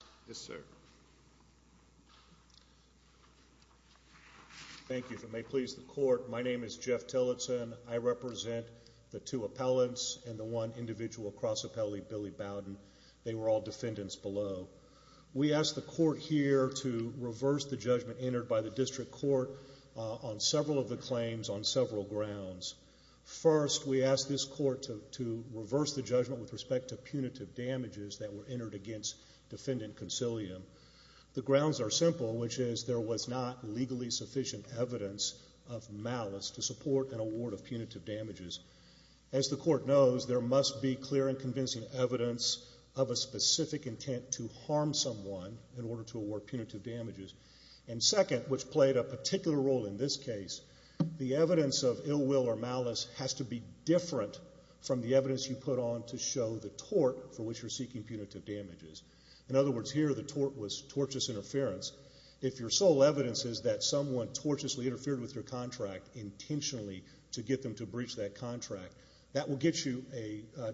al., and the one individual cross-appellee, Billy Bowden. They were all defendants below. We ask the Court here to reverse the judgment entered by the District Court on several of the claims on several grounds. First, we ask this Court to reverse the judgment with respect to punitive damages that were entered against Defendant Concilium. The grounds are simple, which is there was not legally sufficient evidence of malice to support an award of punitive damages. As the Court knows, there must be clear and convincing evidence of a specific intent to harm someone in order to award punitive damages. And second, which played a particular role in this case, the evidence of ill will or malice has to be different from the evidence you put on to show the tort for which you're seeking punitive damages. In other words, here the tort was tortious interference. If your sole evidence is that someone tortiously interfered with your contract intentionally to get them to breach that contract, that will get you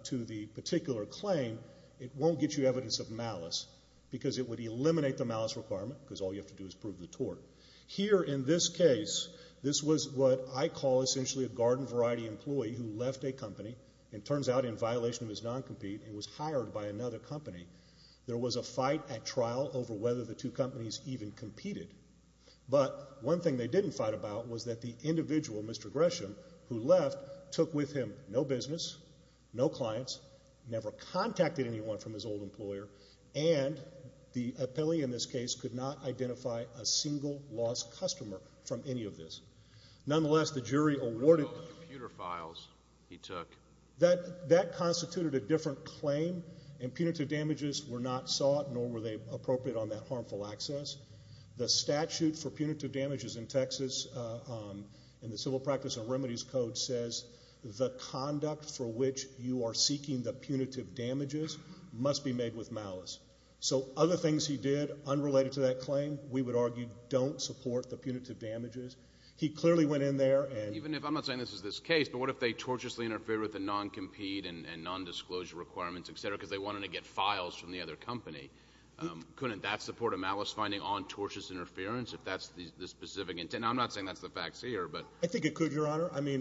to the particular claim. It won't get you evidence of malice because it would eliminate the malice requirement because all you have to do is prove the tort. Here in this case, this was what I call essentially a garden variety employee who left a company and turns out in violation of his non-compete and was hired by another company. There was a fight at trial over whether the two companies even competed. But one thing they didn't fight about was that the individual, Mr. Gresham, who left, took with him no business, no clients, never contacted anyone from his old employer, and the appellee in this case could not identify a single lost customer from any of this. Nonetheless, the jury awarded... He took all the computer files he took. That constituted a different claim and punitive damages were not sought nor were they appropriate on that harmful access. The statute for punitive damages in Texas in the Civil Practice and Remedies Code says the conduct for which you are seeking the punitive damages must be made with malice. So other things he did unrelated to that claim, we would argue, don't support the punitive damages. He clearly went in there and... Even if... I'm not saying this is this case, but what if they tortiously interfered with the non-compete and non-disclosure requirements, et cetera, because they wanted to get files from the other company? Couldn't that support a malice finding on tortious interference if that's the specific intent? I'm not saying that's the facts here, but... I think it could, Your Honor. I mean,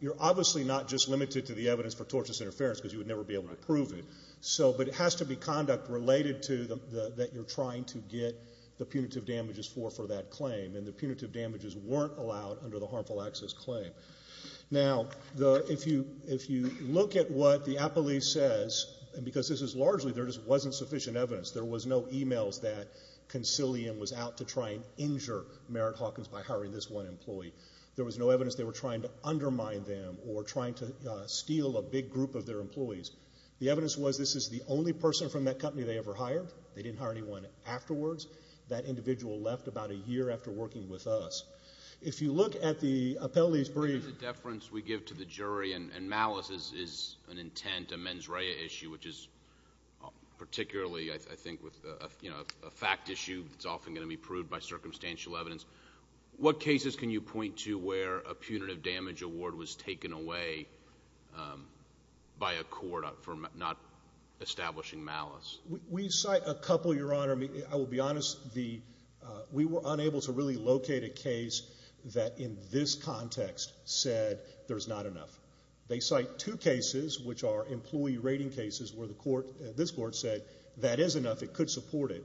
you're obviously not just limited to the evidence for tortious interference because you would never be able to prove it. But it has to be conduct related to that you're trying to get the punitive damages for for that claim, and the punitive damages weren't allowed under the harmful access claim. Now, if you look at what the apolis says, and because this is largely there just wasn't sufficient evidence. There was no e-mails that Consilium was out to try and injure Merritt Hawkins by hiring this one employee. There was no evidence they were trying to undermine them or trying to steal a big group of their employees. The evidence was this is the only person from that company they ever hired. They didn't hire anyone afterwards. That individual left about a year after working with us. If you look at the apolis brief... The deference we give to the jury and malice is an intent, a mens rea issue, which is particularly, I think, a fact issue that's often going to be proved by circumstantial evidence. What cases can you point to where a punitive damage award was taken away by a court for not establishing malice? We cite a couple, Your Honor. I will be honest. We were unable to really locate a case that in this context said there's not enough. They cite two cases which are employee rating cases where the court, this court, said that is enough. It could support it.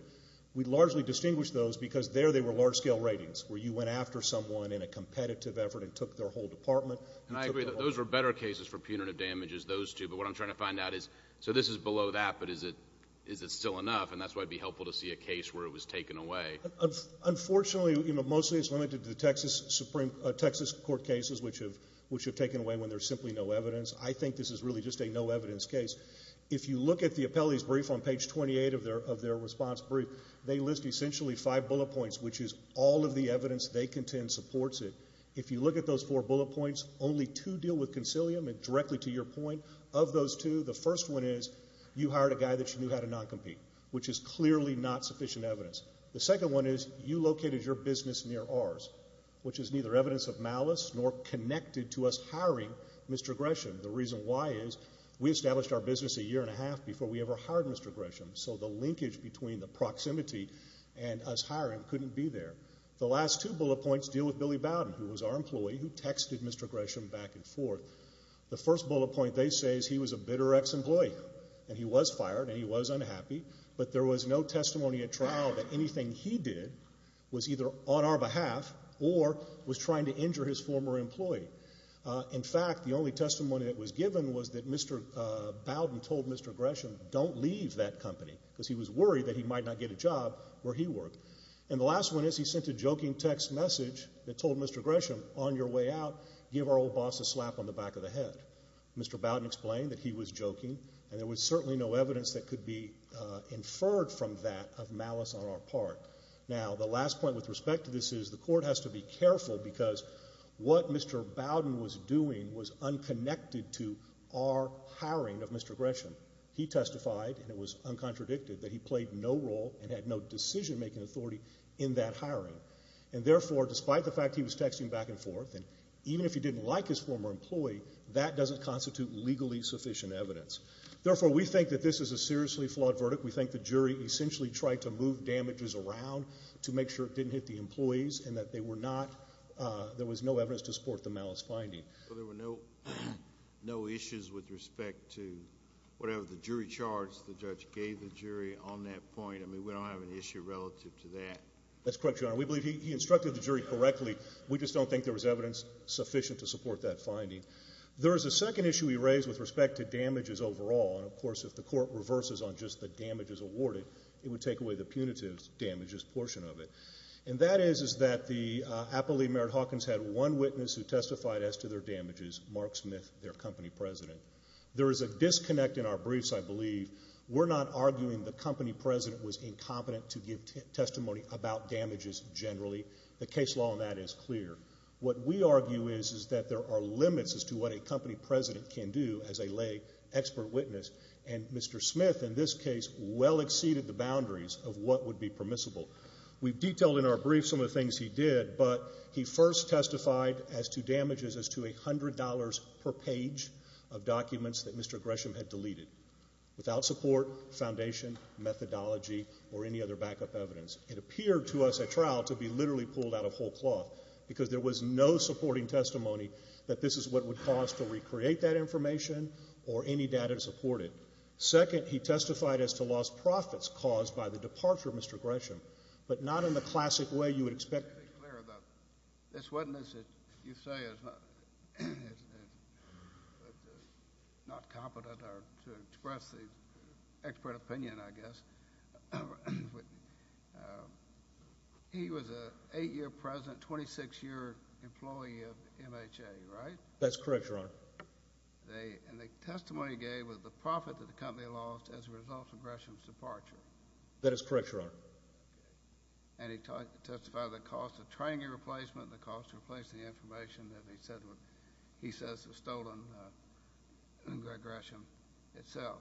We largely distinguish those because there they were large-scale ratings where you went after someone in a competitive effort and took their whole department. I agree. Those were better cases for punitive damages, those two. What I'm trying to find out is this is below that, but is it still enough? That's why it would be helpful to see a case where it was taken away. Unfortunately, mostly it's limited to the Texas Supreme Court cases which have taken away when there's simply no evidence. I think this is really just a no evidence case. If you look at the apolis brief on page 28 of their response brief, they list essentially five bullet points which is all of the evidence they contend supports it. If you look at those four bullet points, only two deal with concilium and directly to your point. Of those two, the first one is you hired a guy that you knew how to non-compete, which is clearly not sufficient evidence. The second one is you located your business near ours, which is neither evidence of malice nor connected to us hiring Mr. Gresham. The reason why is we established our business a year and a half before we ever hired Mr. Gresham, so the linkage between the proximity and us hiring couldn't be there. The last two bullet points deal with Billy Bowden, who was our employee, who texted Mr. Gresham back and forth. The first bullet point they say is he was a bitter ex-employee and he was fired and he was unhappy, but there was no testimony at trial that anything he did was either on our behalf or was trying to injure his former employee. In fact, the only testimony that was given was that Mr. Bowden told Mr. Gresham, don't leave that job where he worked. And the last one is he sent a joking text message that told Mr. Gresham, on your way out, give our old boss a slap on the back of the head. Mr. Bowden explained that he was joking and there was certainly no evidence that could be inferred from that of malice on our part. Now the last point with respect to this is the court has to be careful because what Mr. Bowden was doing was unconnected to our hiring of Mr. Gresham. He testified, and it was uncontradicted, that he played no role and had no decision-making authority in that hiring. And therefore, despite the fact he was texting back and forth, and even if he didn't like his former employee, that doesn't constitute legally sufficient evidence. Therefore, we think that this is a seriously flawed verdict. We think the jury essentially tried to move damages around to make sure it didn't hit the employees and that they were not, there was no evidence to support the malice finding. Well, there were no issues with respect to whatever the jury charged the judge gave the jury on that point. I mean, we don't have an issue relative to that. That's correct, Your Honor. We believe he instructed the jury correctly. We just don't think there was evidence sufficient to support that finding. There is a second issue he raised with respect to damages overall. And of course, if the court reverses on just the damages awarded, it would take away the punitive damages portion of it. And that is that the appellee, Merritt Hawkins, had one witness who testified as to their damages, Mark Smith, their company president. There is a disconnect in our briefs, I believe. We're not arguing the company president was incompetent to give testimony about damages generally. The case law on that is clear. What we argue is that there are limits as to what a company president can do as a lay expert witness. And Mr. Smith, in this case, well exceeded the boundaries of what would be permissible. We've detailed in our brief some of the things he did, but he first testified as to damages to $100 per page of documents that Mr. Gresham had deleted without support, foundation, methodology, or any other backup evidence. It appeared to us at trial to be literally pulled out of whole cloth because there was no supporting testimony that this is what would cause to recreate that information or any data to support it. Second, he testified as to lost profits caused by the departure of Mr. Gresham, but not in the classic way you would expect. Just to be clear about this witness that you say is not competent to express the expert opinion, I guess. He was an 8-year president, 26-year employee of MHA, right? That's correct, Your Honor. And the testimony he gave was the profit that the company lost as a result of Gresham's departure. That is correct, Your Honor. And he testified to the cost of training and replacement, the cost to replace the information that he says was stolen, Greg Gresham itself.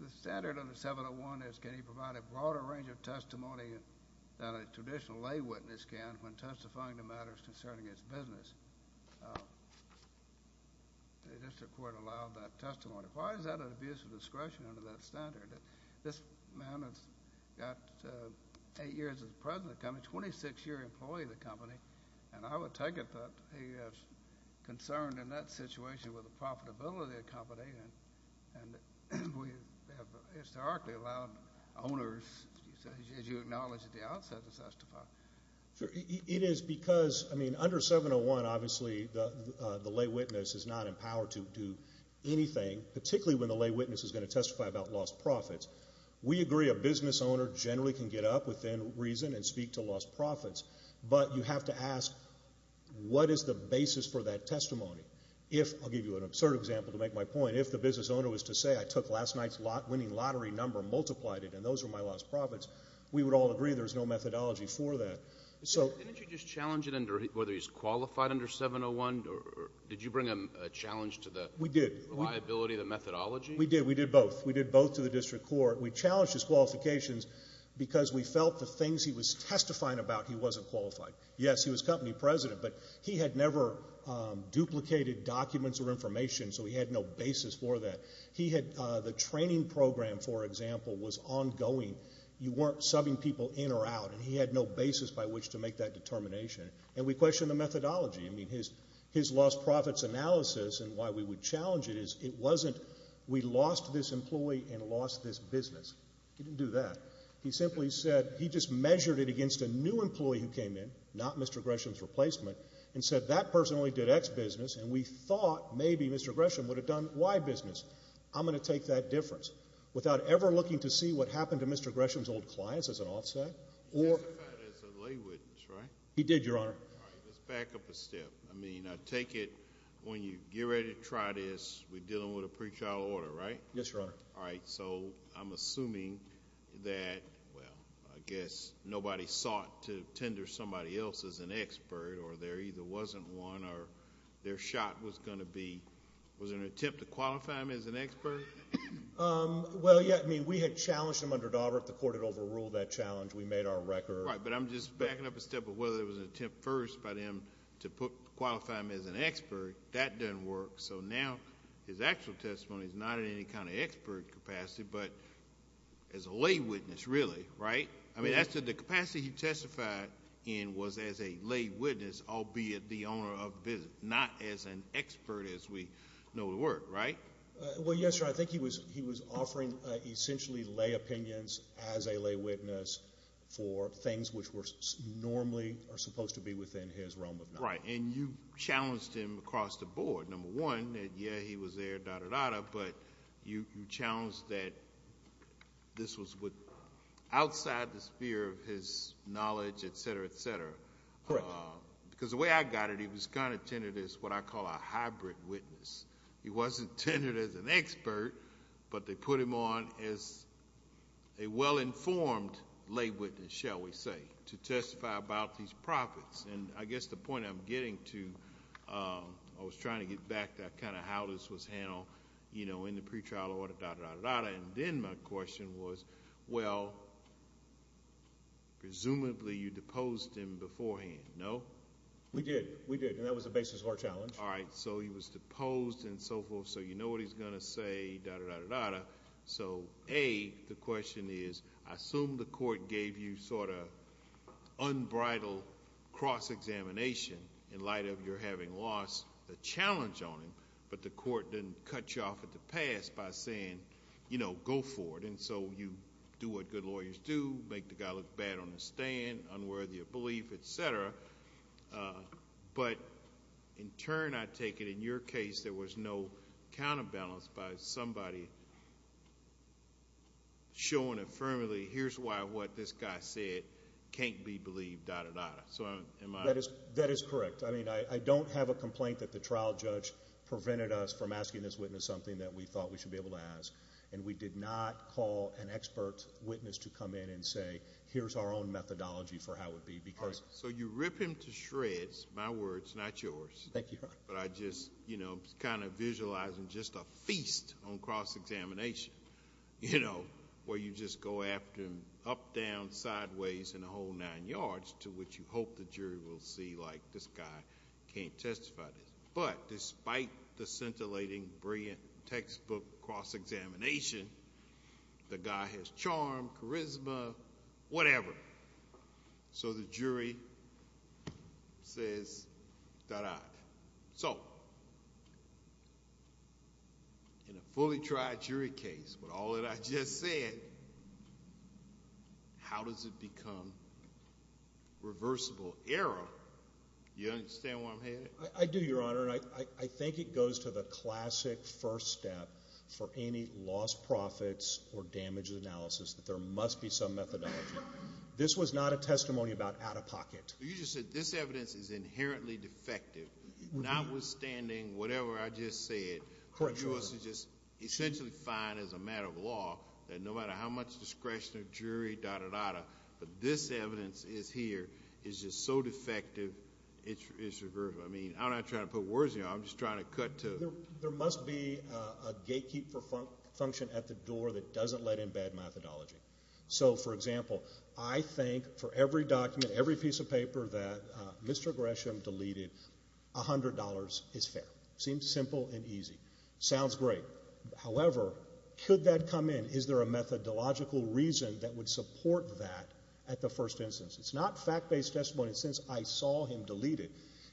The standard under 701 is can he provide a broader range of testimony than a traditional lay witness can when testifying to matters concerning his business. The district court allowed that testimony. Why is that an abuse of discretion under that standard? I mean, this man has got 8 years as president of the company, 26-year employee of the company, and I would take it that he is concerned in that situation with the profitability of the company, and we have historically allowed owners, as you acknowledged at the outset, to testify. It is because, I mean, under 701, obviously, the lay witness is not empowered to do anything, particularly when the lay witness is going to testify about lost profits. We agree a business owner generally can get up within reason and speak to lost profits, but you have to ask, what is the basis for that testimony? If, I will give you an absurd example to make my point, if the business owner was to say, I took last night's winning lottery number, multiplied it, and those were my lost profits, we would all agree there is no methodology for that. Didn't you just challenge it under whether he is qualified under 701? Did you bring a challenge to the reliability of the testimony? The methodology? We did. We did both. We did both to the district court. We challenged his qualifications because we felt the things he was testifying about, he wasn't qualified. Yes, he was company president, but he had never duplicated documents or information, so he had no basis for that. He had the training program, for example, was ongoing. You weren't subbing people in or out, and he had no basis by which to make that determination, and we questioned the methodology. I mean, his lost profits analysis and why we would challenge it is it wasn't we lost this employee and lost this business. He didn't do that. He simply said he just measured it against a new employee who came in, not Mr. Gresham's replacement, and said that person only did X business, and we thought maybe Mr. Gresham would have done Y business. I'm going to take that difference. Without ever looking to see what happened to Mr. Gresham's old clients as an offset or— He testified as a lay witness, right? He did, Your Honor. All right. Let's back up a step. I mean, I take it when you get ready to try this, we're dealing with a pretrial order, right? Yes, Your Honor. All right. So I'm assuming that, well, I guess nobody sought to tender somebody else as an expert, or there either wasn't one or their shot was going to be—was it an attempt to qualify him as an expert? Well, yeah. I mean, we had challenged him under Daubert. The court had overruled that challenge. We made our record. Right. But I'm just backing up a step of whether it was an attempt first by them to put—qualify him as an expert. That doesn't work. So now his actual testimony is not in any kind of expert capacity, but as a lay witness, really, right? I mean, as to the capacity he testified in was as a lay witness, albeit the owner of the business, not as an expert as we know the word, right? Well, yes, Your Honor. But I think he was offering essentially lay opinions as a lay witness for things which were normally or supposed to be within his realm of knowledge. Right. And you challenged him across the board, number one, that, yeah, he was there, da-da-da-da, but you challenged that this was outside the sphere of his knowledge, et cetera, et cetera. Correct. Because the way I got it, he was kind of tendered as what I call a hybrid witness. He wasn't tendered as an expert, but they put him on as a well-informed lay witness, shall we say, to testify about these profits. And I guess the point I'm getting to—I was trying to get back to kind of how this was handled, you know, in the pretrial order, da-da-da-da-da-da, and then my question was, well, presumably you deposed him beforehand, no? We did. We did. And that was the basis of our challenge. All right. So he was deposed and so forth, so you know what he's going to say, da-da-da-da-da. So, A, the question is, I assume the court gave you sort of unbridled cross-examination in light of your having lost the challenge on him, but the court didn't cut you off at the pass by saying, you know, go for it. And so you do what good lawyers do, make the guy look bad on the stand, unworthy of belief, et cetera. But in turn, I take it in your case there was no counterbalance by somebody showing affirmatively, here's why what this guy said can't be believed, da-da-da-da. So am I— That is correct. I mean, I don't have a complaint that the trial judge prevented us from asking this witness something that we thought we should be able to ask, and we did not call an expert witness to come in and say, here's our own methodology for how it would be because— So you rip him to shreds. My words, not yours. Thank you, Your Honor. But I just, you know, kind of visualizing just a feast on cross-examination, you know, where you just go after him up, down, sideways, and a whole nine yards, to which you hope the jury will see, like, this guy can't testify to this. But despite the scintillating, brilliant textbook cross-examination, the guy has charm, charisma, whatever. So the jury says, da-da. So in a fully tried jury case with all that I just said, how does it become reversible error? Do you understand where I'm headed? I do, Your Honor, and I think it goes to the classic first step for any lost profits or damaged analysis, that there must be some methodology. This was not a testimony about out-of-pocket. You just said this evidence is inherently defective, notwithstanding whatever I just said. Correct, Your Honor. Yours is just essentially fine as a matter of law, that no matter how much discretion of jury, da-da-da-da, but this evidence is here, is just so defective, it's reversible. I mean, I'm not trying to put words in here. I'm just trying to cut to— There must be a gatekeep for function at the door that doesn't let in bad methodology. So, for example, I think for every document, every piece of paper that Mr. Gresham deleted, $100 is fair. Seems simple and easy. Sounds great. However, could that come in? Is there a methodological reason that would support that at the first instance? It's not fact-based testimony. And since I saw him delete it,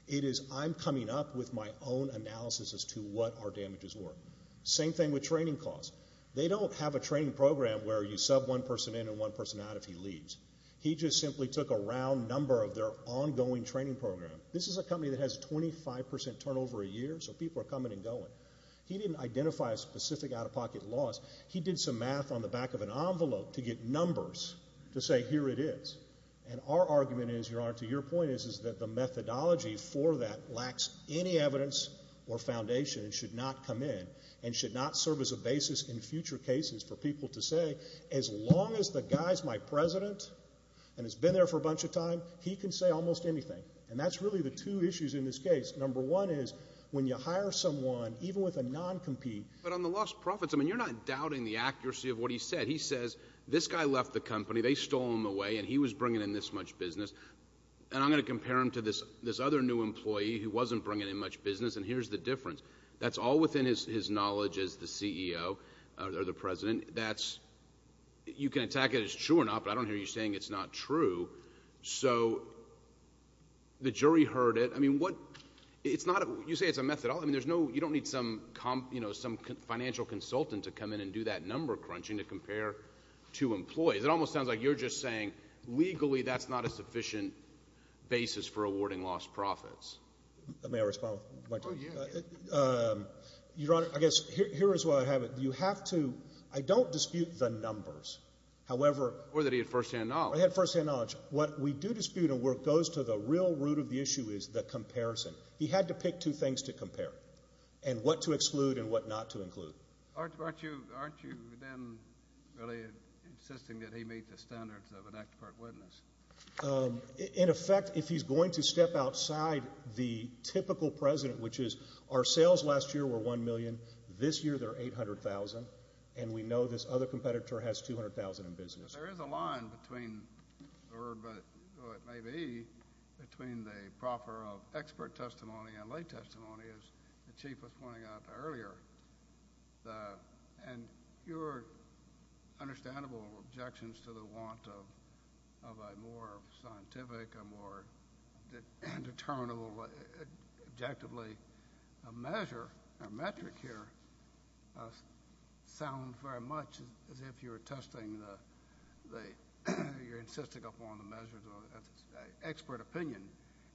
it is I'm coming up with my own analysis as to what our damages were. Same thing with training costs. They don't have a training program where you sub one person in and one person out if he leaves. He just simply took a round number of their ongoing training program. This is a company that has 25% turnover a year, so people are coming and going. He didn't identify a specific out-of-pocket loss. He did some math on the back of an envelope to get numbers to say here it is. And our argument is, Your Honor, to your point, is that the methodology for that lacks any evidence or foundation and should not come in and should not serve as a basis in future cases for people to say, as long as the guy's my president and has been there for a bunch of time, he can say almost anything. And that's really the two issues in this case. Number one is when you hire someone, even with a non-compete. But on the lost profits, I mean, you're not doubting the accuracy of what he said. He says, This guy left the company. They stole him away, and he was bringing in this much business. And I'm going to compare him to this other new employee who wasn't bringing in much business, and here's the difference. That's all within his knowledge as the CEO or the president. You can attack it as true or not, but I don't hear you saying it's not true. So the jury heard it. I mean, you say it's a methodology. I mean, you don't need some financial consultant to come in and do that number crunching to compare two employees. It almost sounds like you're just saying legally that's not a sufficient basis for awarding lost profits. May I respond? Oh, yeah. Your Honor, I guess here is what I have. You have to—I don't dispute the numbers. However— Or that he had firsthand knowledge. He had firsthand knowledge. What we do dispute and where it goes to the real root of the issue is the comparison. He had to pick two things to compare and what to exclude and what not to include. Aren't you then really insisting that he meet the standards of an expert witness? In effect, if he's going to step outside the typical president, which is our sales last year were $1 million. This year they're $800,000, and we know this other competitor has $200,000 in business. There is a line between—or it may be between the proffer of expert testimony and lay testimony, as the Chief was pointing out earlier. And your understandable objections to the want of a more scientific, a more determinable objectively measure or metric here sound very much as if you were testing the—you're insisting upon the measures of expert opinion.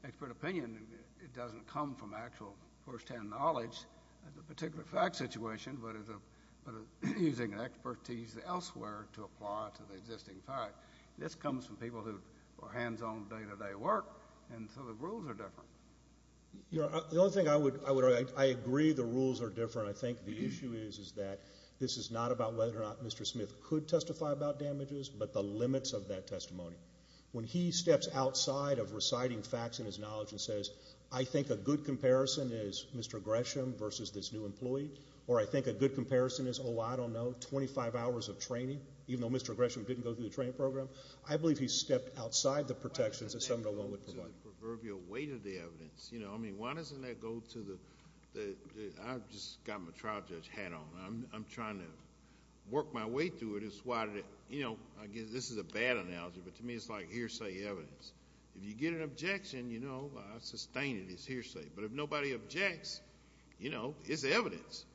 Expert opinion, it doesn't come from actual firsthand knowledge of the particular fact situation, but using expertise elsewhere to apply to the existing fact. This comes from people who are hands-on, day-to-day work, and so the rules are different. Your Honor, the only thing I would—I agree the rules are different. I think the issue is that this is not about whether or not Mr. Smith could testify about damages, but the limits of that testimony. When he steps outside of reciting facts in his knowledge and says, I think a good comparison is Mr. Gresham versus this new employee, or I think a good comparison is, oh, I don't know, 25 hours of training, even though Mr. Gresham didn't go through the training program, I believe he stepped outside the protections that 701 would provide. Why doesn't that go to the proverbial weight of the evidence? Why doesn't that go to the—I've just got my trial judge hat on. I'm trying to work my way through it. This is a bad analogy, but to me it's like hearsay evidence. If you get an objection, I'll sustain it as hearsay, but if nobody objects, it's evidence.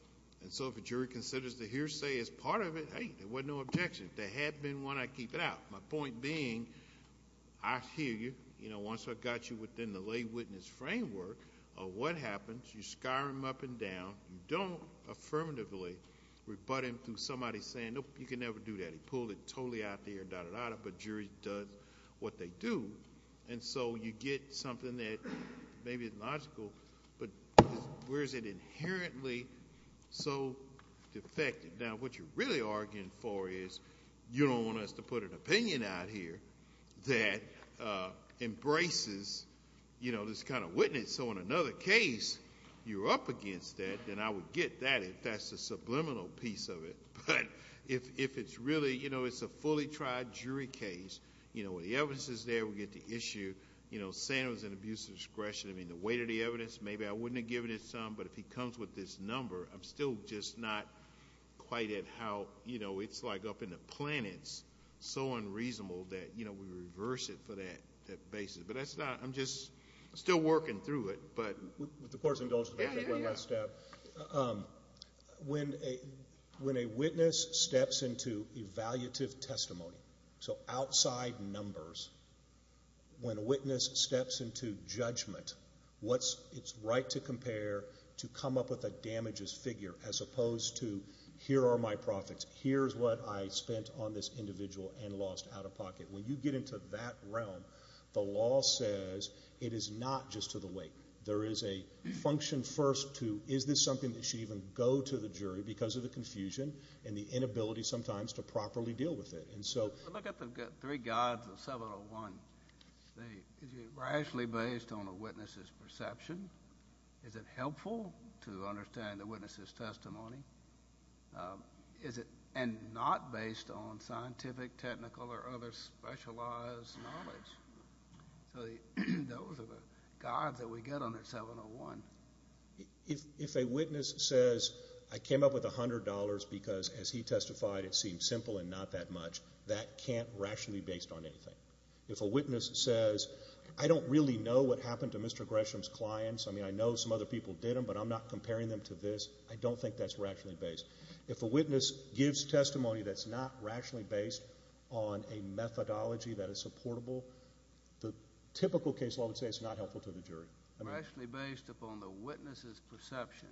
If a jury considers the hearsay as part of it, hey, there was no objection. There had been when I keep it out. My point being, I hear you. Once I've got you within the lay witness framework of what happens, you skyrim up and down, you don't affirmatively rebut him through somebody saying, nope, you can never do that. He pulled it totally out of the air, da-da-da-da, but jury does what they do. And so you get something that maybe is logical, but where is it inherently so defective? Now, what you're really arguing for is you don't want us to put an opinion out here that embraces this kind of witness so in another case you're up against that, then I would get that if that's the subliminal piece of it. But if it's really a fully tried jury case, the evidence is there, we get the issue. Saying it was an abuse of discretion, I mean, the weight of the evidence, maybe I wouldn't have given it some, but if he comes with this number, I'm still just not quite at how, you know, it's like up in the planets, so unreasonable that, you know, we reverse it for that basis. But that's not, I'm just still working through it. With the court's indulgence, I'll take one last step. When a witness steps into evaluative testimony, so outside numbers, when a witness steps into judgment, it's right to compare, to come up with a damages figure as opposed to here are my profits, here's what I spent on this individual and lost out of pocket. When you get into that realm, the law says it is not just to the weight. There is a function first to is this something that should even go to the jury because of the confusion and the inability sometimes to properly deal with it. Look at the three gods of 701. Is it rationally based on a witness's perception? Is it helpful to understand the witness's testimony? Is it not based on scientific, technical, or other specialized knowledge? So those are the gods that we get under 701. If a witness says, I came up with $100 because, as he testified, it seemed simple and not that much, that can't rationally be based on anything. If a witness says, I don't really know what happened to Mr. Gresham's clients. I mean, I know some other people did them, but I'm not comparing them to this. I don't think that's rationally based. If a witness gives testimony that's not rationally based on a methodology that is supportable, the typical case law would say it's not helpful to the jury. Rationally based upon the witness's perception.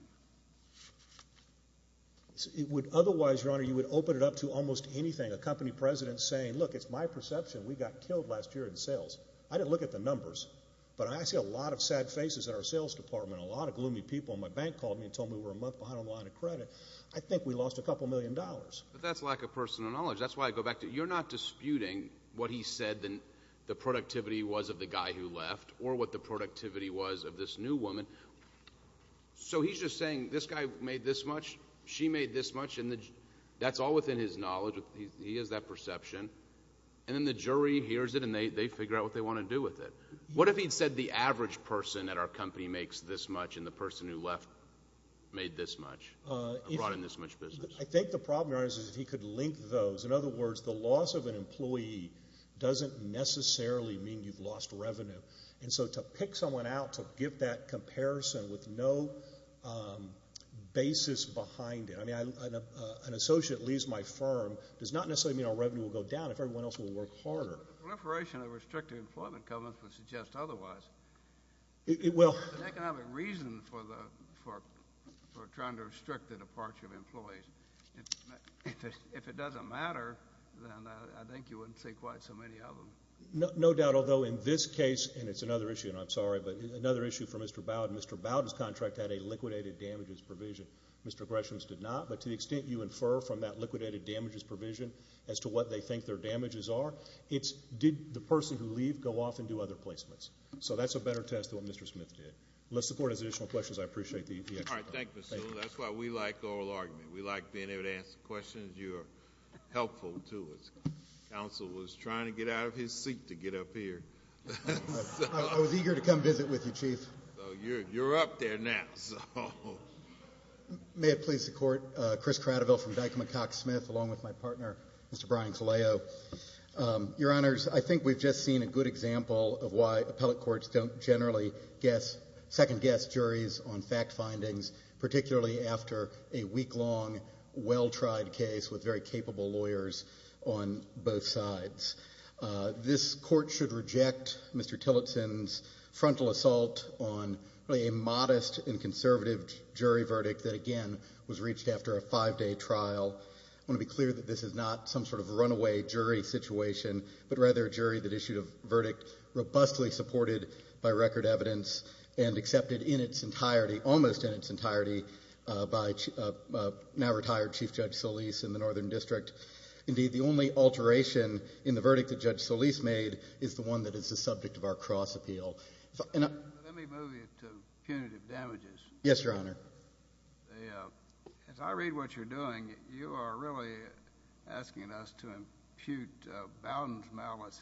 Otherwise, Your Honor, you would open it up to almost anything. A company president saying, look, it's my perception we got killed last year in sales. I didn't look at the numbers, but I see a lot of sad faces in our sales department. A lot of gloomy people. My bank called me and told me we were a month behind on the line of credit. I think we lost a couple million dollars. But that's lack of personal knowledge. That's why I go back to it. You're not disputing what he said the productivity was of the guy who left or what the productivity was of this new woman. So he's just saying this guy made this much, she made this much, and that's all within his knowledge. He has that perception. And then the jury hears it and they figure out what they want to do with it. What if he'd said the average person at our company makes this much and the person who left made this much and brought in this much business? I think the problem, Your Honor, is if he could link those. In other words, the loss of an employee doesn't necessarily mean you've lost revenue. And so to pick someone out to give that comparison with no basis behind it. I mean, an associate leaves my firm does not necessarily mean our revenue will go down if everyone else will work harder. The proliferation of restrictive employment covenants would suggest otherwise. An economic reason for trying to restrict the departure of employees. If it doesn't matter, then I think you wouldn't see quite so many of them. No doubt, although in this case, and it's another issue, and I'm sorry, but another issue for Mr. Bowden. Mr. Bowden's contract had a liquidated damages provision. Mr. Gresham's did not. But to the extent you infer from that liquidated damages provision as to what they think their damages are, it's did the person who leaved go off and do other placements. So that's a better test than what Mr. Smith did. Unless the Board has additional questions, I appreciate the explanation. All right, thank you, Mr. Sewell. That's why we like oral argument. We like being able to answer questions. You're helpful to us. Counsel was trying to get out of his seat to get up here. I was eager to come visit with you, Chief. You're up there now. May it please the Court, Chris Cradiville from Dykema-Cox Smith, along with my partner, Mr. Brian Faleo. Your Honors, I think we've just seen a good example of why appellate courts don't generally second-guess juries on fact findings, particularly after a week-long, well-tried case with very capable lawyers on both sides. This Court should reject Mr. Tillotson's frontal assault on a modest and conservative jury verdict that, again, was reached after a five-day trial. I want to be clear that this is not some sort of runaway jury situation, but rather a jury that issued a verdict robustly supported by record evidence and accepted in its entirety, almost in its entirety, by now-retired Chief Judge Solis in the Northern District. Indeed, the only alteration in the verdict that Judge Solis made is the one that is the subject of our cross-appeal. Let me move you to punitive damages. Yes, Your Honor. As I read what you're doing, you are really asking us to impute Bowdoin's malice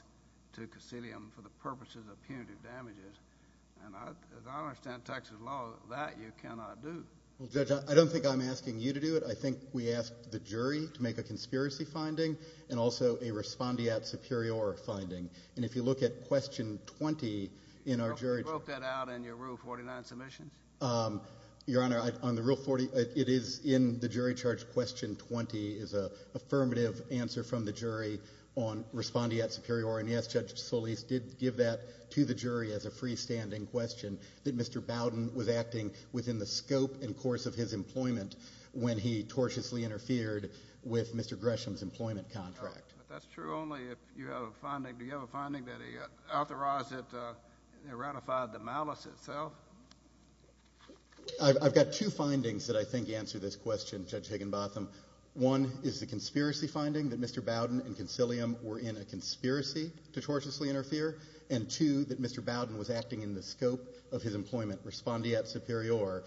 to Caecilium for the purposes of punitive damages. And as I understand Texas law, that you cannot do. Well, Judge, I don't think I'm asking you to do it. I think we asked the jury to make a conspiracy finding and also a respondeat superior finding. And if you look at Question 20 in our jury charge... You broke that out in your Rule 49 submissions? Your Honor, on the Rule 40, it is in the jury charge. Question 20 is an affirmative answer from the jury on respondeat superior. And yes, Judge Solis did give that to the jury as a freestanding question, that Mr. Bowdoin was acting within the scope and course of his employment when he tortiously interfered with Mr. Gresham's employment contract. But that's true only if you have a finding. Do you have a finding that he authorized it and ratified the malice itself? I've got two findings that I think answer this question, Judge Higginbotham. One is the conspiracy finding that Mr. Bowdoin and Conciliam were in a conspiracy to tortiously interfere, and two, that Mr. Bowdoin was acting in the scope of his employment, respondeat superior,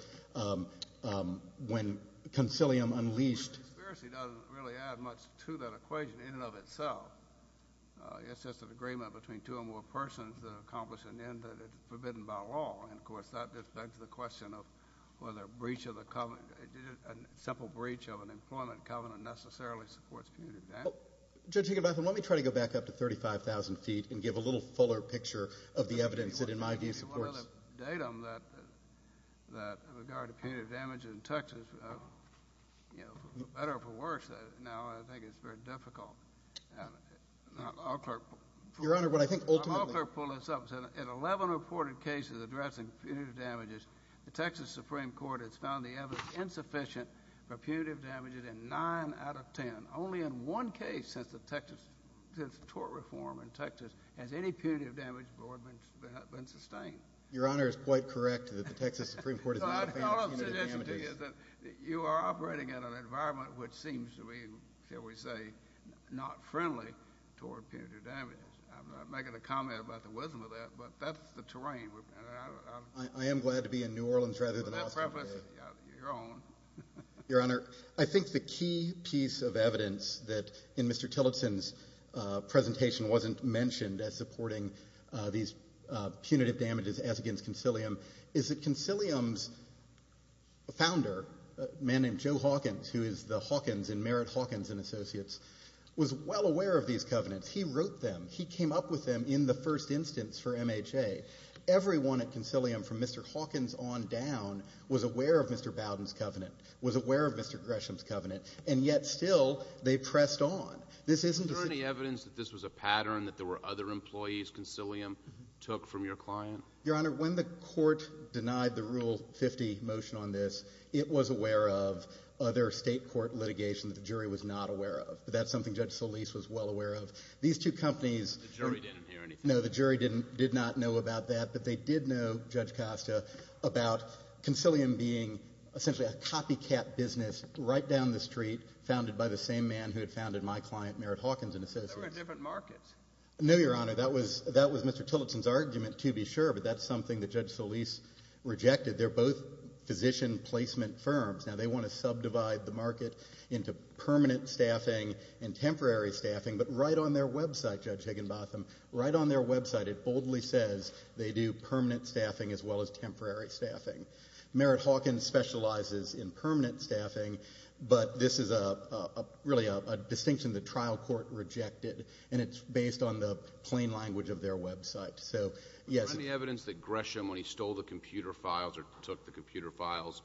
when Conciliam unleashed... The conspiracy doesn't really add much to that equation in and of itself. It's just an agreement between two or more persons to accomplish an end that is forbidden by law. And, of course, that just begs the question of whether a breach of the covenant, a simple breach of an employment covenant necessarily supports punitive damage. Judge Higginbotham, let me try to go back up to 35,000 feet and give a little fuller picture of the evidence that, in my view, supports... ...datum that in regard to punitive damage in Texas, you know, better or for worse, now I think it's very difficult. Your Honor, what I think ultimately... The Texas Supreme Court has found the evidence insufficient for punitive damages in nine out of ten. Only in one case since the tort reform in Texas has any punitive damage been sustained. Your Honor is quite correct that the Texas Supreme Court has not found punitive damages. All I'm suggesting is that you are operating in an environment which seems to be, shall we say, not friendly toward punitive damages. I'm not making a comment about the wisdom of that, but that's the terrain. I am glad to be in New Orleans rather than Australia. Your Honor, I think the key piece of evidence that in Mr. Tillotson's presentation wasn't mentioned as supporting these punitive damages as against Concilium is that Concilium's founder, a man named Joe Hawkins, who is the Hawkins in Merritt Hawkins & Associates, was well aware of these covenants. He wrote them. He came up with them in the first instance for MHA. Everyone at Concilium from Mr. Hawkins on down was aware of Mr. Bowden's covenant, was aware of Mr. Gresham's covenant, and yet still they pressed on. This isn't the same. Is there any evidence that this was a pattern that there were other employees Concilium took from your client? Your Honor, when the Court denied the Rule 50 motion on this, it was aware of other State court litigation that the jury was not aware of. That's something Judge Solis was well aware of. These two companies — The jury didn't hear anything. No, the jury did not know about that, but they did know, Judge Costa, about Concilium being essentially a copycat business right down the street founded by the same man who had founded my client, Merritt Hawkins & Associates. There were different markets. No, Your Honor, that was Mr. Tillotson's argument, to be sure, but that's something that Judge Solis rejected. They're both physician placement firms. Now, they want to subdivide the market into permanent staffing and temporary staffing, but right on their website, Judge Higginbotham, right on their website, it boldly says they do permanent staffing as well as temporary staffing. Merritt Hawkins specializes in permanent staffing, but this is really a distinction the trial court rejected, and it's based on the plain language of their website. Is there any evidence that Gresham, when he stole the computer files or took the computer files,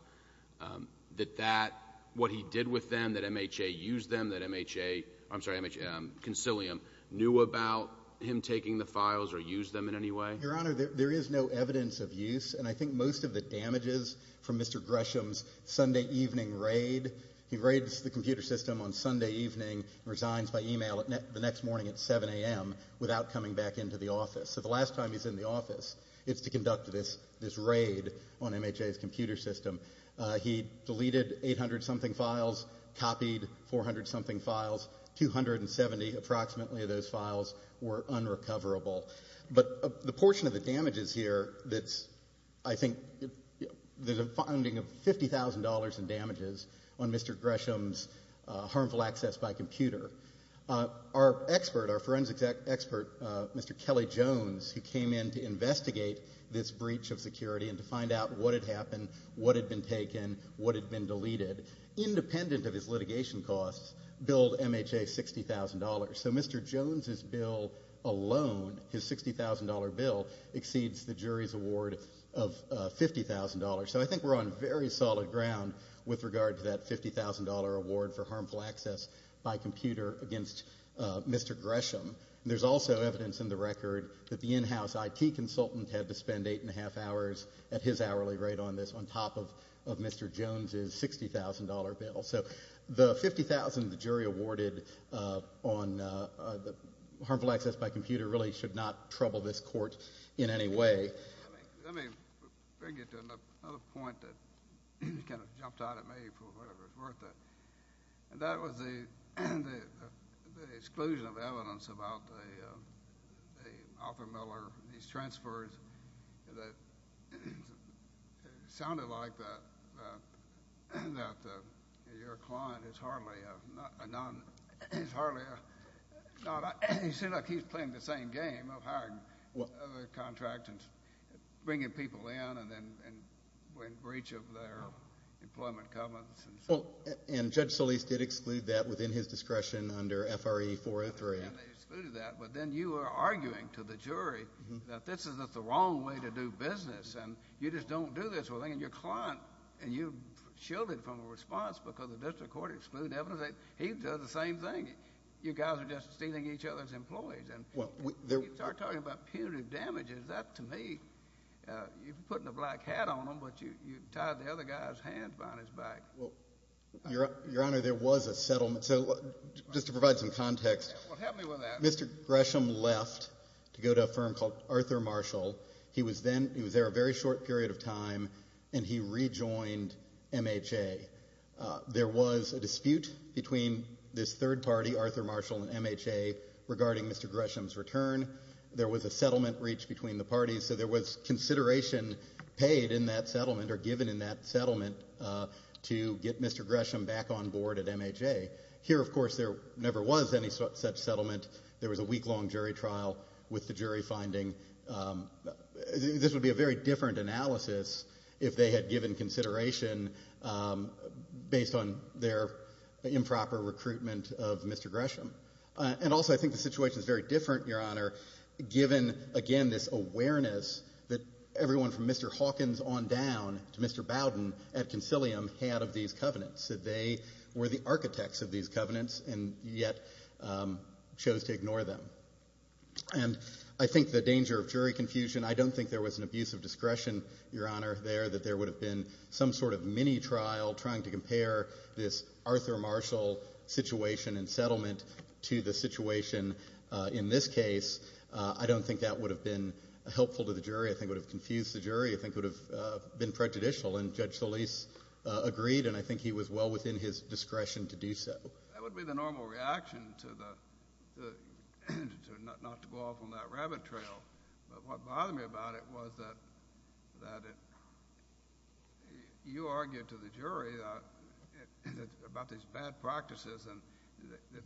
that what he did with them, that MHA used them, that MHA, I'm sorry, MHA, Concilium, knew about him taking the files or used them in any way? Your Honor, there is no evidence of use, and I think most of the damages from Mr. Gresham's Sunday evening raid, he raids the computer system on Sunday evening and resigns by e-mail the next morning at 7 a.m. without coming back into the office. So the last time he's in the office is to conduct this raid on MHA's computer system. He deleted 800-something files, copied 400-something files, 270 approximately of those files were unrecoverable. But the portion of the damages here that's, I think, there's a finding of $50,000 in damages on Mr. Gresham's harmful access by computer. Our expert, our forensic expert, Mr. Kelly Jones, who came in to investigate this breach of security and to find out what had happened, what had been taken, what had been deleted, independent of his litigation costs, billed MHA $60,000. So Mr. Jones's bill alone, his $60,000 bill, exceeds the jury's award of $50,000. So I think we're on very solid ground with regard to that $50,000 award for harmful access by computer against Mr. Gresham. There's also evidence in the record that the in-house IT consultant had to spend eight-and-a-half hours at his hourly rate on this on top of Mr. Jones's $60,000 bill. So the $50,000 the jury awarded on harmful access by computer really should not trouble this court in any way. Let me bring you to another point that kind of jumped out at me for whatever it's worth. That was the exclusion of evidence about the Arthur Miller, these transfers, that sounded like your client is hardly a non—he's hardly a— you seem like he's playing the same game of hiring other contractors, bringing people in and then in breach of their employment covenants. And Judge Solis did exclude that within his discretion under FRE 403. And they excluded that, but then you are arguing to the jury that this is the wrong way to do business and you just don't do this well. And your client, and you shielded from a response because the district court excluded evidence. He does the same thing. You guys are just stealing each other's employees. When you start talking about punitive damages, that to me, you're putting a black hat on them, but you tied the other guy's hand behind his back. Your Honor, there was a settlement. So just to provide some context. Well, help me with that. Mr. Gresham left to go to a firm called Arthur Marshall. He was there a very short period of time, and he rejoined MHA. There was a dispute between this third party, Arthur Marshall and MHA, regarding Mr. Gresham's return. There was a settlement reached between the parties, so there was consideration paid in that settlement or given in that settlement to get Mr. Gresham back on board at MHA. Here, of course, there never was any such settlement. There was a week-long jury trial with the jury finding. This would be a very different analysis if they had given consideration based on their improper recruitment of Mr. Gresham. And also, I think the situation is very different, Your Honor, given, again, this awareness that everyone from Mr. Hawkins on down to Mr. Bowden at Concilium had of these covenants, that they were the architects of these covenants and yet chose to ignore them. And I think the danger of jury confusion, I don't think there was an abuse of discretion, Your Honor, there, that there would have been some sort of mini-trial trying to compare this Arthur Marshall situation and settlement to the situation in this case. I don't think that would have been helpful to the jury. I think it would have confused the jury. I think it would have been prejudicial, and Judge Solis agreed, and I think he was well within his discretion to do so. That would be the normal reaction, not to go off on that rabbit trail. But what bothered me about it was that you argued to the jury about these bad practices and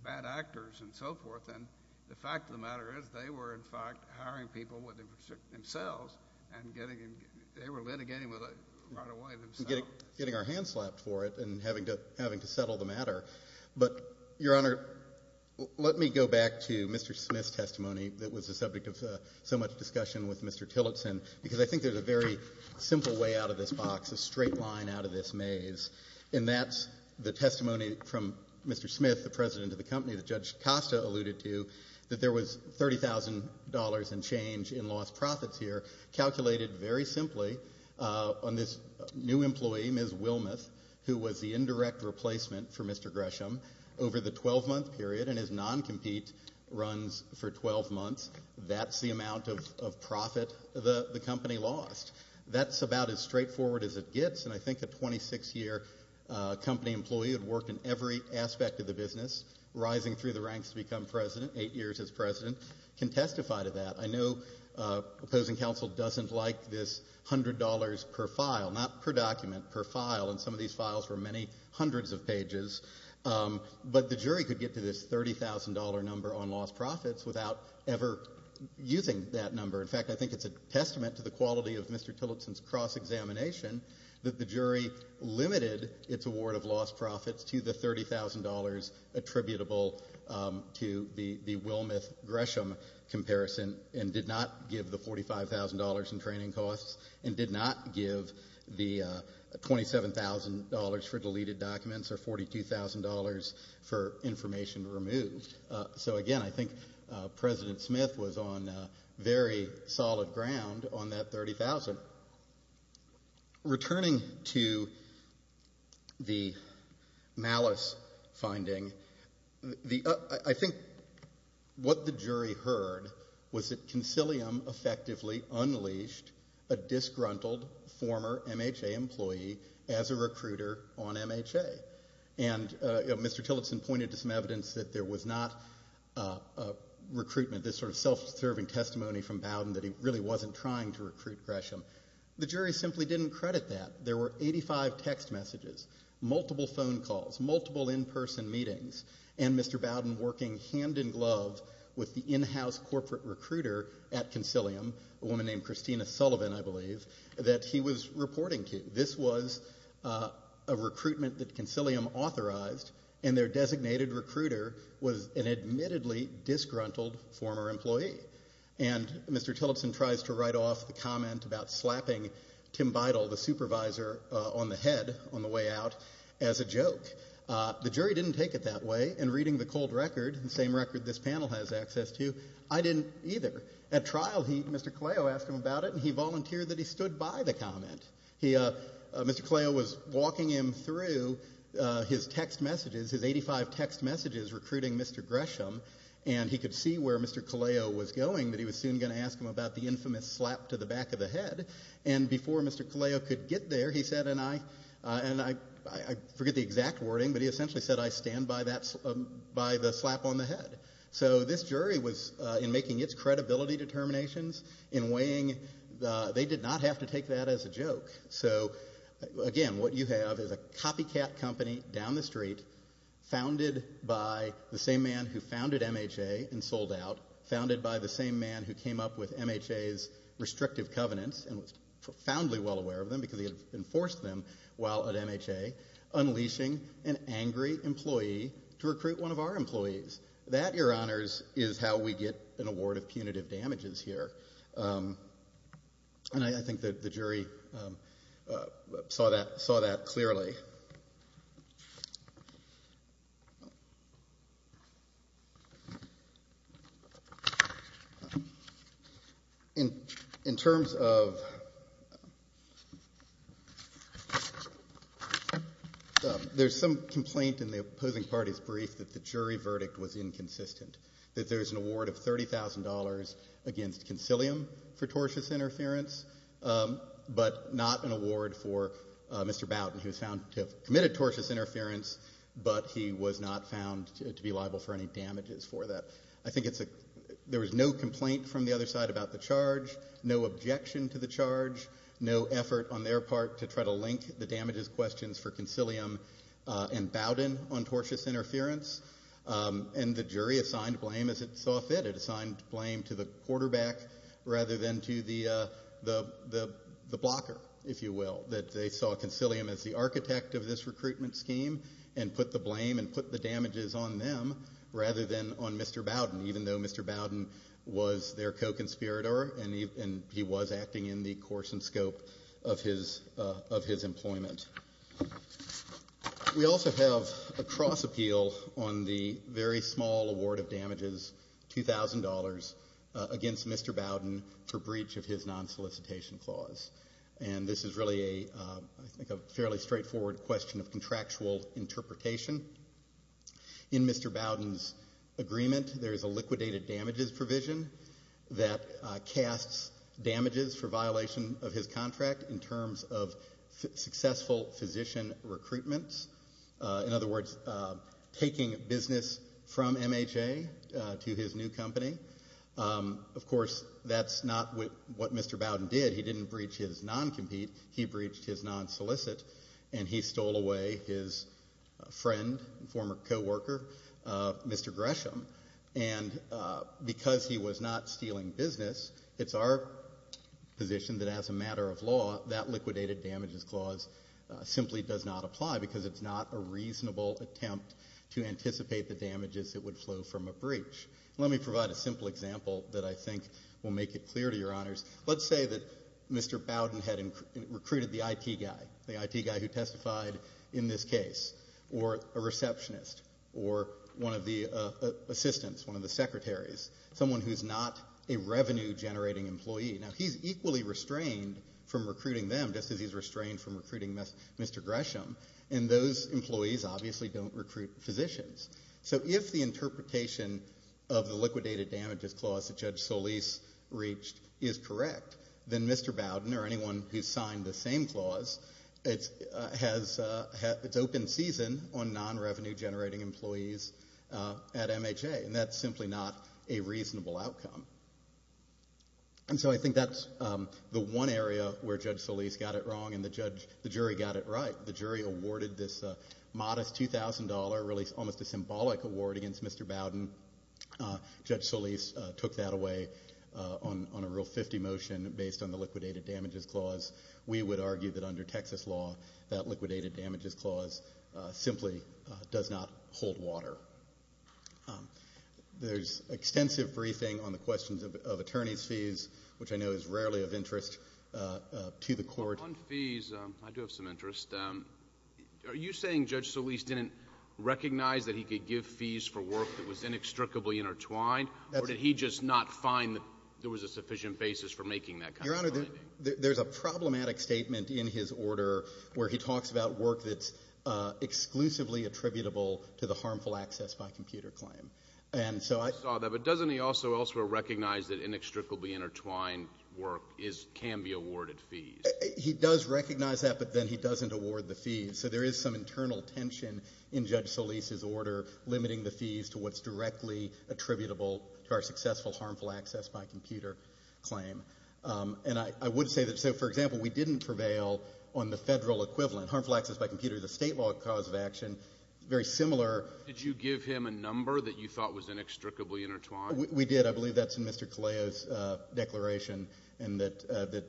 bad actors and so forth, and the fact of the matter is they were, in fact, hiring people themselves, and they were litigating right away themselves. We were getting our hands slapped for it and having to settle the matter. But, Your Honor, let me go back to Mr. Smith's testimony that was the subject of so much discussion with Mr. Tillotson, because I think there's a very simple way out of this box, a straight line out of this maze, and that's the testimony from Mr. Smith, the president of the company that Judge Costa alluded to, that there was $30,000 in change in lost profits here calculated very simply on this new employee, Ms. Wilmoth, who was the indirect replacement for Mr. Gresham over the 12-month period, and his non-compete runs for 12 months. That's the amount of profit the company lost. That's about as straightforward as it gets, and I think a 26-year company employee who had worked in every aspect of the business, rising through the ranks to become president, eight years as president, can testify to that. I know opposing counsel doesn't like this $100 per file, not per document, per file, and some of these files were many hundreds of pages, but the jury could get to this $30,000 number on lost profits without ever using that number. In fact, I think it's a testament to the quality of Mr. Tillotson's cross-examination that the jury limited its award of lost profits to the $30,000 attributable to the Wilmoth-Gresham comparison and did not give the $45,000 in training costs and did not give the $27,000 for deleted documents or $42,000 for information removed. So, again, I think President Smith was on very solid ground on that $30,000. Returning to the malice finding, I think what the jury heard was that Concilium effectively unleashed a disgruntled former MHA employee as a recruiter on MHA. And Mr. Tillotson pointed to some evidence that there was not recruitment, this sort of self-serving testimony from Bowden that he really wasn't trying to recruit Gresham. The jury simply didn't credit that. There were 85 text messages, multiple phone calls, multiple in-person meetings, and Mr. Bowden working hand-in-glove with the in-house corporate recruiter at Concilium, a woman named Christina Sullivan, I believe, that he was reporting to. This was a recruitment that Concilium authorized, and their designated recruiter was an admittedly disgruntled former employee. And Mr. Tillotson tries to write off the comment about slapping Tim Beidle, the supervisor, on the head on the way out as a joke. The jury didn't take it that way. In reading the cold record, the same record this panel has access to, I didn't either. At trial, Mr. Kaleo asked him about it, and he volunteered that he stood by the comment. Mr. Kaleo was walking him through his text messages, his 85 text messages recruiting Mr. Gresham, and he could see where Mr. Kaleo was going, that he was soon going to ask him about the infamous slap to the back of the head. And before Mr. Kaleo could get there, he said, and I forget the exact wording, but he essentially said, I stand by the slap on the head. So this jury was, in making its credibility determinations, in weighing, they did not have to take that as a joke. So, again, what you have is a copycat company down the street founded by the same man who founded MHA and sold out, founded by the same man who came up with MHA's restrictive covenants and was profoundly well aware of them because he had enforced them while at MHA, unleashing an angry employee to recruit one of our employees. That, Your Honors, is how we get an award of punitive damages here. And I think that the jury saw that clearly. Okay. In terms of, there's some complaint in the opposing party's brief that the jury verdict was inconsistent, that there's an award of $30,000 against concilium for tortious interference, but not an award for Mr. Bowden, who was found to have committed tortious interference, but he was not found to be liable for any damages for that. I think there was no complaint from the other side about the charge, no objection to the charge, no effort on their part to try to link the damages questions for concilium and Bowden on tortious interference. And the jury assigned blame as it saw fit. It assigned blame to the quarterback rather than to the blocker, if you will, that they saw concilium as the architect of this recruitment scheme and put the blame and put the damages on them rather than on Mr. Bowden, even though Mr. Bowden was their co-conspirator and he was acting in the course and scope of his employment. We also have a cross appeal on the very small award of damages, $2,000, against Mr. Bowden for breach of his non-solicitation clause. And this is really a fairly straightforward question of contractual interpretation. In Mr. Bowden's agreement, there is a liquidated damages provision that casts damages for violation of his contract in terms of successful physician recruitment. In other words, taking business from MHA to his new company. Of course, that's not what Mr. Bowden did. He didn't breach his non-compete. He breached his non-solicit and he stole away his friend and former co-worker, Mr. Gresham. And because he was not stealing business, it's our position that as a matter of law, that liquidated damages clause simply does not apply because it's not a reasonable attempt to anticipate the damages that would flow from a breach. Let me provide a simple example that I think will make it clear to Your Honors. Let's say that Mr. Bowden had recruited the IT guy, the IT guy who testified in this case, or a receptionist, or one of the assistants, one of the secretaries, someone who's not a revenue-generating employee. Now, he's equally restrained from recruiting them just as he's restrained from recruiting Mr. Gresham, and those employees obviously don't recruit physicians. So if the interpretation of the liquidated damages clause that Judge Solis reached is correct, then Mr. Bowden or anyone who's signed the same clause, it's open season on non-revenue-generating employees at MHA, and that's simply not a reasonable outcome. And so I think that's the one area where Judge Solis got it wrong and the jury got it right. The jury awarded this modest $2,000, really almost a symbolic award against Mr. Bowden. Judge Solis took that away on a Rule 50 motion based on the liquidated damages clause. We would argue that under Texas law, that liquidated damages clause simply does not hold water. There's extensive briefing on the questions of attorney's fees, which I know is rarely of interest to the court. On fees, I do have some interest. Are you saying Judge Solis didn't recognize that he could give fees for work that was inextricably intertwined, or did he just not find that there was a sufficient basis for making that kind of finding? Your Honor, there's a problematic statement in his order where he talks about work that's exclusively attributable to the harmful access by computer claim. And so I saw that, but doesn't he also elsewhere recognize that inextricably intertwined work is — can be awarded fees? He does recognize that, but then he doesn't award the fees. So there is some internal tension in Judge Solis's order limiting the fees to what's directly attributable to our successful harmful access by computer claim. And I would say that — so, for example, we didn't prevail on the Federal equivalent. Harmful access by computer is a state law cause of action. Very similar — Did you give him a number that you thought was inextricably intertwined? We did. I believe that's in Mr. Kaleo's declaration, and that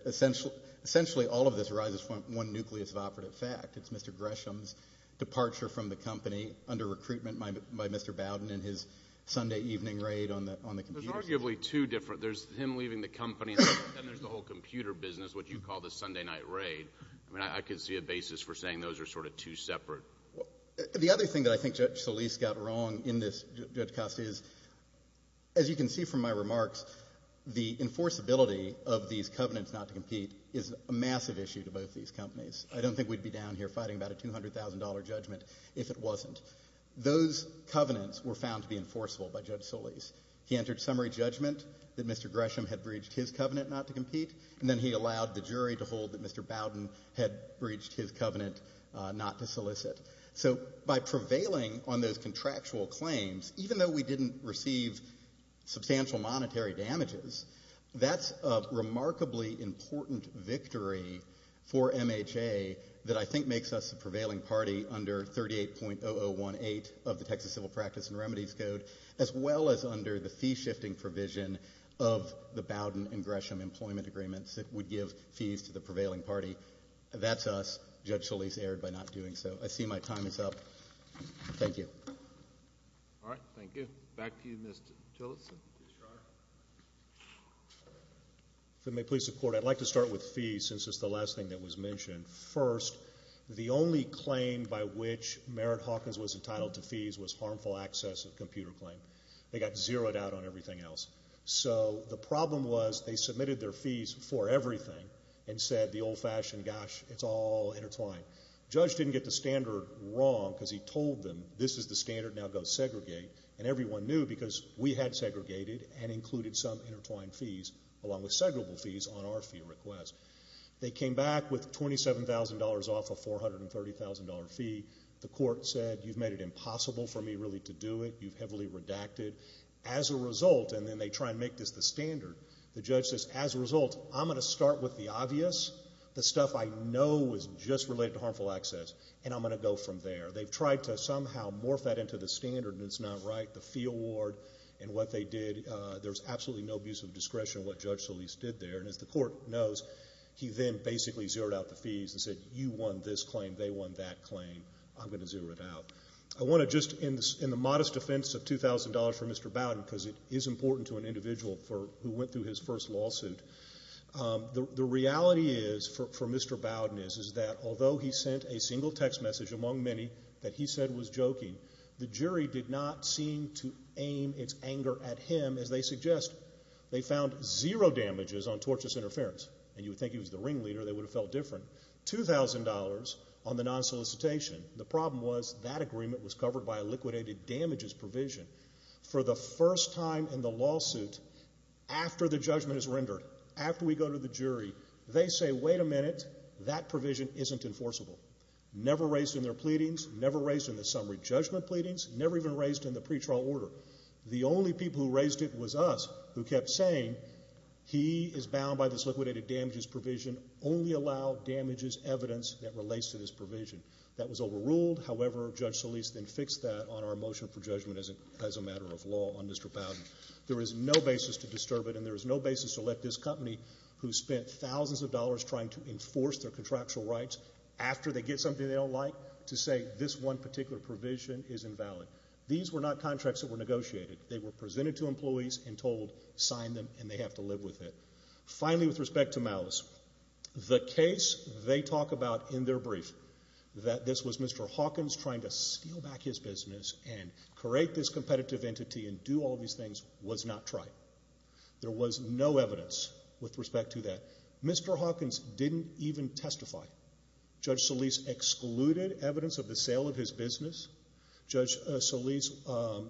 essentially all of this arises from one nucleus of operative fact. It's Mr. Gresham's departure from the company under recruitment by Mr. Bowden in his Sunday evening raid on the computers. There's arguably two different — there's him leaving the company, and then there's the whole computer business, what you call the Sunday night raid. I mean, I could see a basis for saying those are sort of two separate — The other thing that I think Judge Solis got wrong in this, Judge Costi, is, as you can see from my remarks, the enforceability of these covenants not to compete is a massive issue to both these companies. I don't think we'd be down here fighting about a $200,000 judgment if it wasn't. Those covenants were found to be enforceable by Judge Solis. He entered summary judgment that Mr. Gresham had breached his covenant not to compete, and then he allowed the jury to hold that Mr. Bowden had breached his covenant not to solicit. So by prevailing on those contractual claims, even though we didn't receive substantial monetary damages, that's a remarkably important victory for MHA that I think makes us the prevailing party under 38.0018 of the Texas Civil Practice and Remedies Code, as well as under the fee-shifting provision of the Bowden and Gresham employment agreements that would give fees to the prevailing party. That's us. Judge Solis erred by not doing so. I see my time is up. Thank you. All right. Thank you. Back to you, Mr. Tillotson. Yes, Your Honor. If it may please the Court, I'd like to start with fees since it's the last thing that was mentioned. First, the only claim by which Merritt Hawkins was entitled to fees was harmful access of computer claim. They got zeroed out on everything else. So the problem was they submitted their fees for everything and said the old-fashioned, gosh, it's all intertwined. The judge didn't get the standard wrong because he told them this is the standard, now go segregate. And everyone knew because we had segregated and included some intertwined fees along with segregable fees on our fee request. They came back with $27,000 off a $430,000 fee. The Court said you've made it impossible for me really to do it. You've heavily redacted. As a result, and then they try and make this the standard, the judge says, as a result, I'm going to start with the obvious, the stuff I know is just related to harmful access, and I'm going to go from there. They've tried to somehow morph that into the standard, and it's not right. The fee award and what they did, there's absolutely no abuse of discretion in what Judge Solis did there. And as the Court knows, he then basically zeroed out the fees and said you won this claim, they won that claim, I'm going to zero it out. I want to just, in the modest defense of $2,000 for Mr. Bowden, because it is important to an individual who went through his first lawsuit, the reality is, for Mr. Bowden is, is that although he sent a single text message among many that he said was joking, the jury did not seem to aim its anger at him, as they suggest. They found zero damages on tortious interference. And you would think he was the ringleader. They would have felt different. $2,000 on the non-solicitation. The problem was that agreement was covered by a liquidated damages provision. For the first time in the lawsuit, after the judgment is rendered, after we go to the jury, they say, wait a minute, that provision isn't enforceable. Never raised in their pleadings, never raised in the summary judgment pleadings, never even raised in the pretrial order. The only people who raised it was us, who kept saying, he is bound by this liquidated damages provision, only allow damages evidence that relates to this provision. That was overruled. However, Judge Solis then fixed that on our motion for judgment as a matter of law on Mr. Bowden. There is no basis to disturb it, and there is no basis to let this company, who spent thousands of dollars trying to enforce their contractual rights, after they get something they don't like, to say this one particular provision is invalid. These were not contracts that were negotiated. They were presented to employees and told, sign them, and they have to live with it. Finally, with respect to Malice, the case they talk about in their brief, that this was Mr. Hawkins trying to steal back his business and create this business, was not trite. There was no evidence with respect to that. Mr. Hawkins didn't even testify. Judge Solis excluded evidence of the sale of his business. Judge Solis,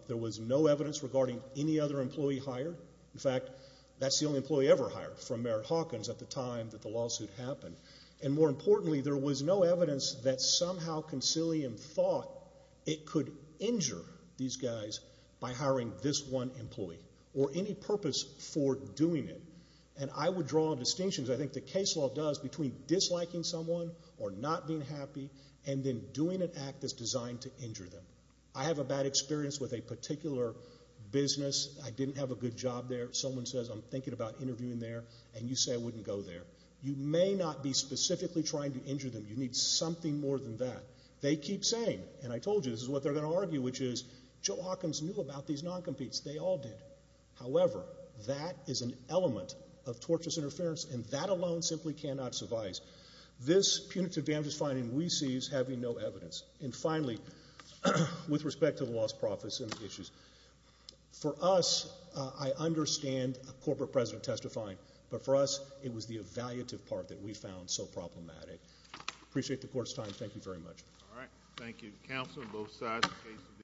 there was no evidence regarding any other employee hired. In fact, that's the only employee ever hired from Merritt Hawkins at the time that the lawsuit happened. And more importantly, there was no evidence that somehow Concilium thought it could injure these guys by hiring this one employee or any purpose for doing it. And I would draw a distinction, as I think the case law does, between disliking someone or not being happy and then doing an act that's designed to injure them. I have a bad experience with a particular business. I didn't have a good job there. Someone says, I'm thinking about interviewing there, and you say I wouldn't go there. You may not be specifically trying to injure them. You need something more than that. They keep saying, and I told you this is what they're going to argue, which is Joe Hawkins knew about these non-competes. They all did. However, that is an element of torturous interference, and that alone simply cannot suffice. This punitive damages finding we see as having no evidence. And finally, with respect to the lost profits and the issues, for us I understand a corporate president testifying, but for us it was the evaluative part that we found so problematic. I appreciate the court's time. Thank you very much. All right.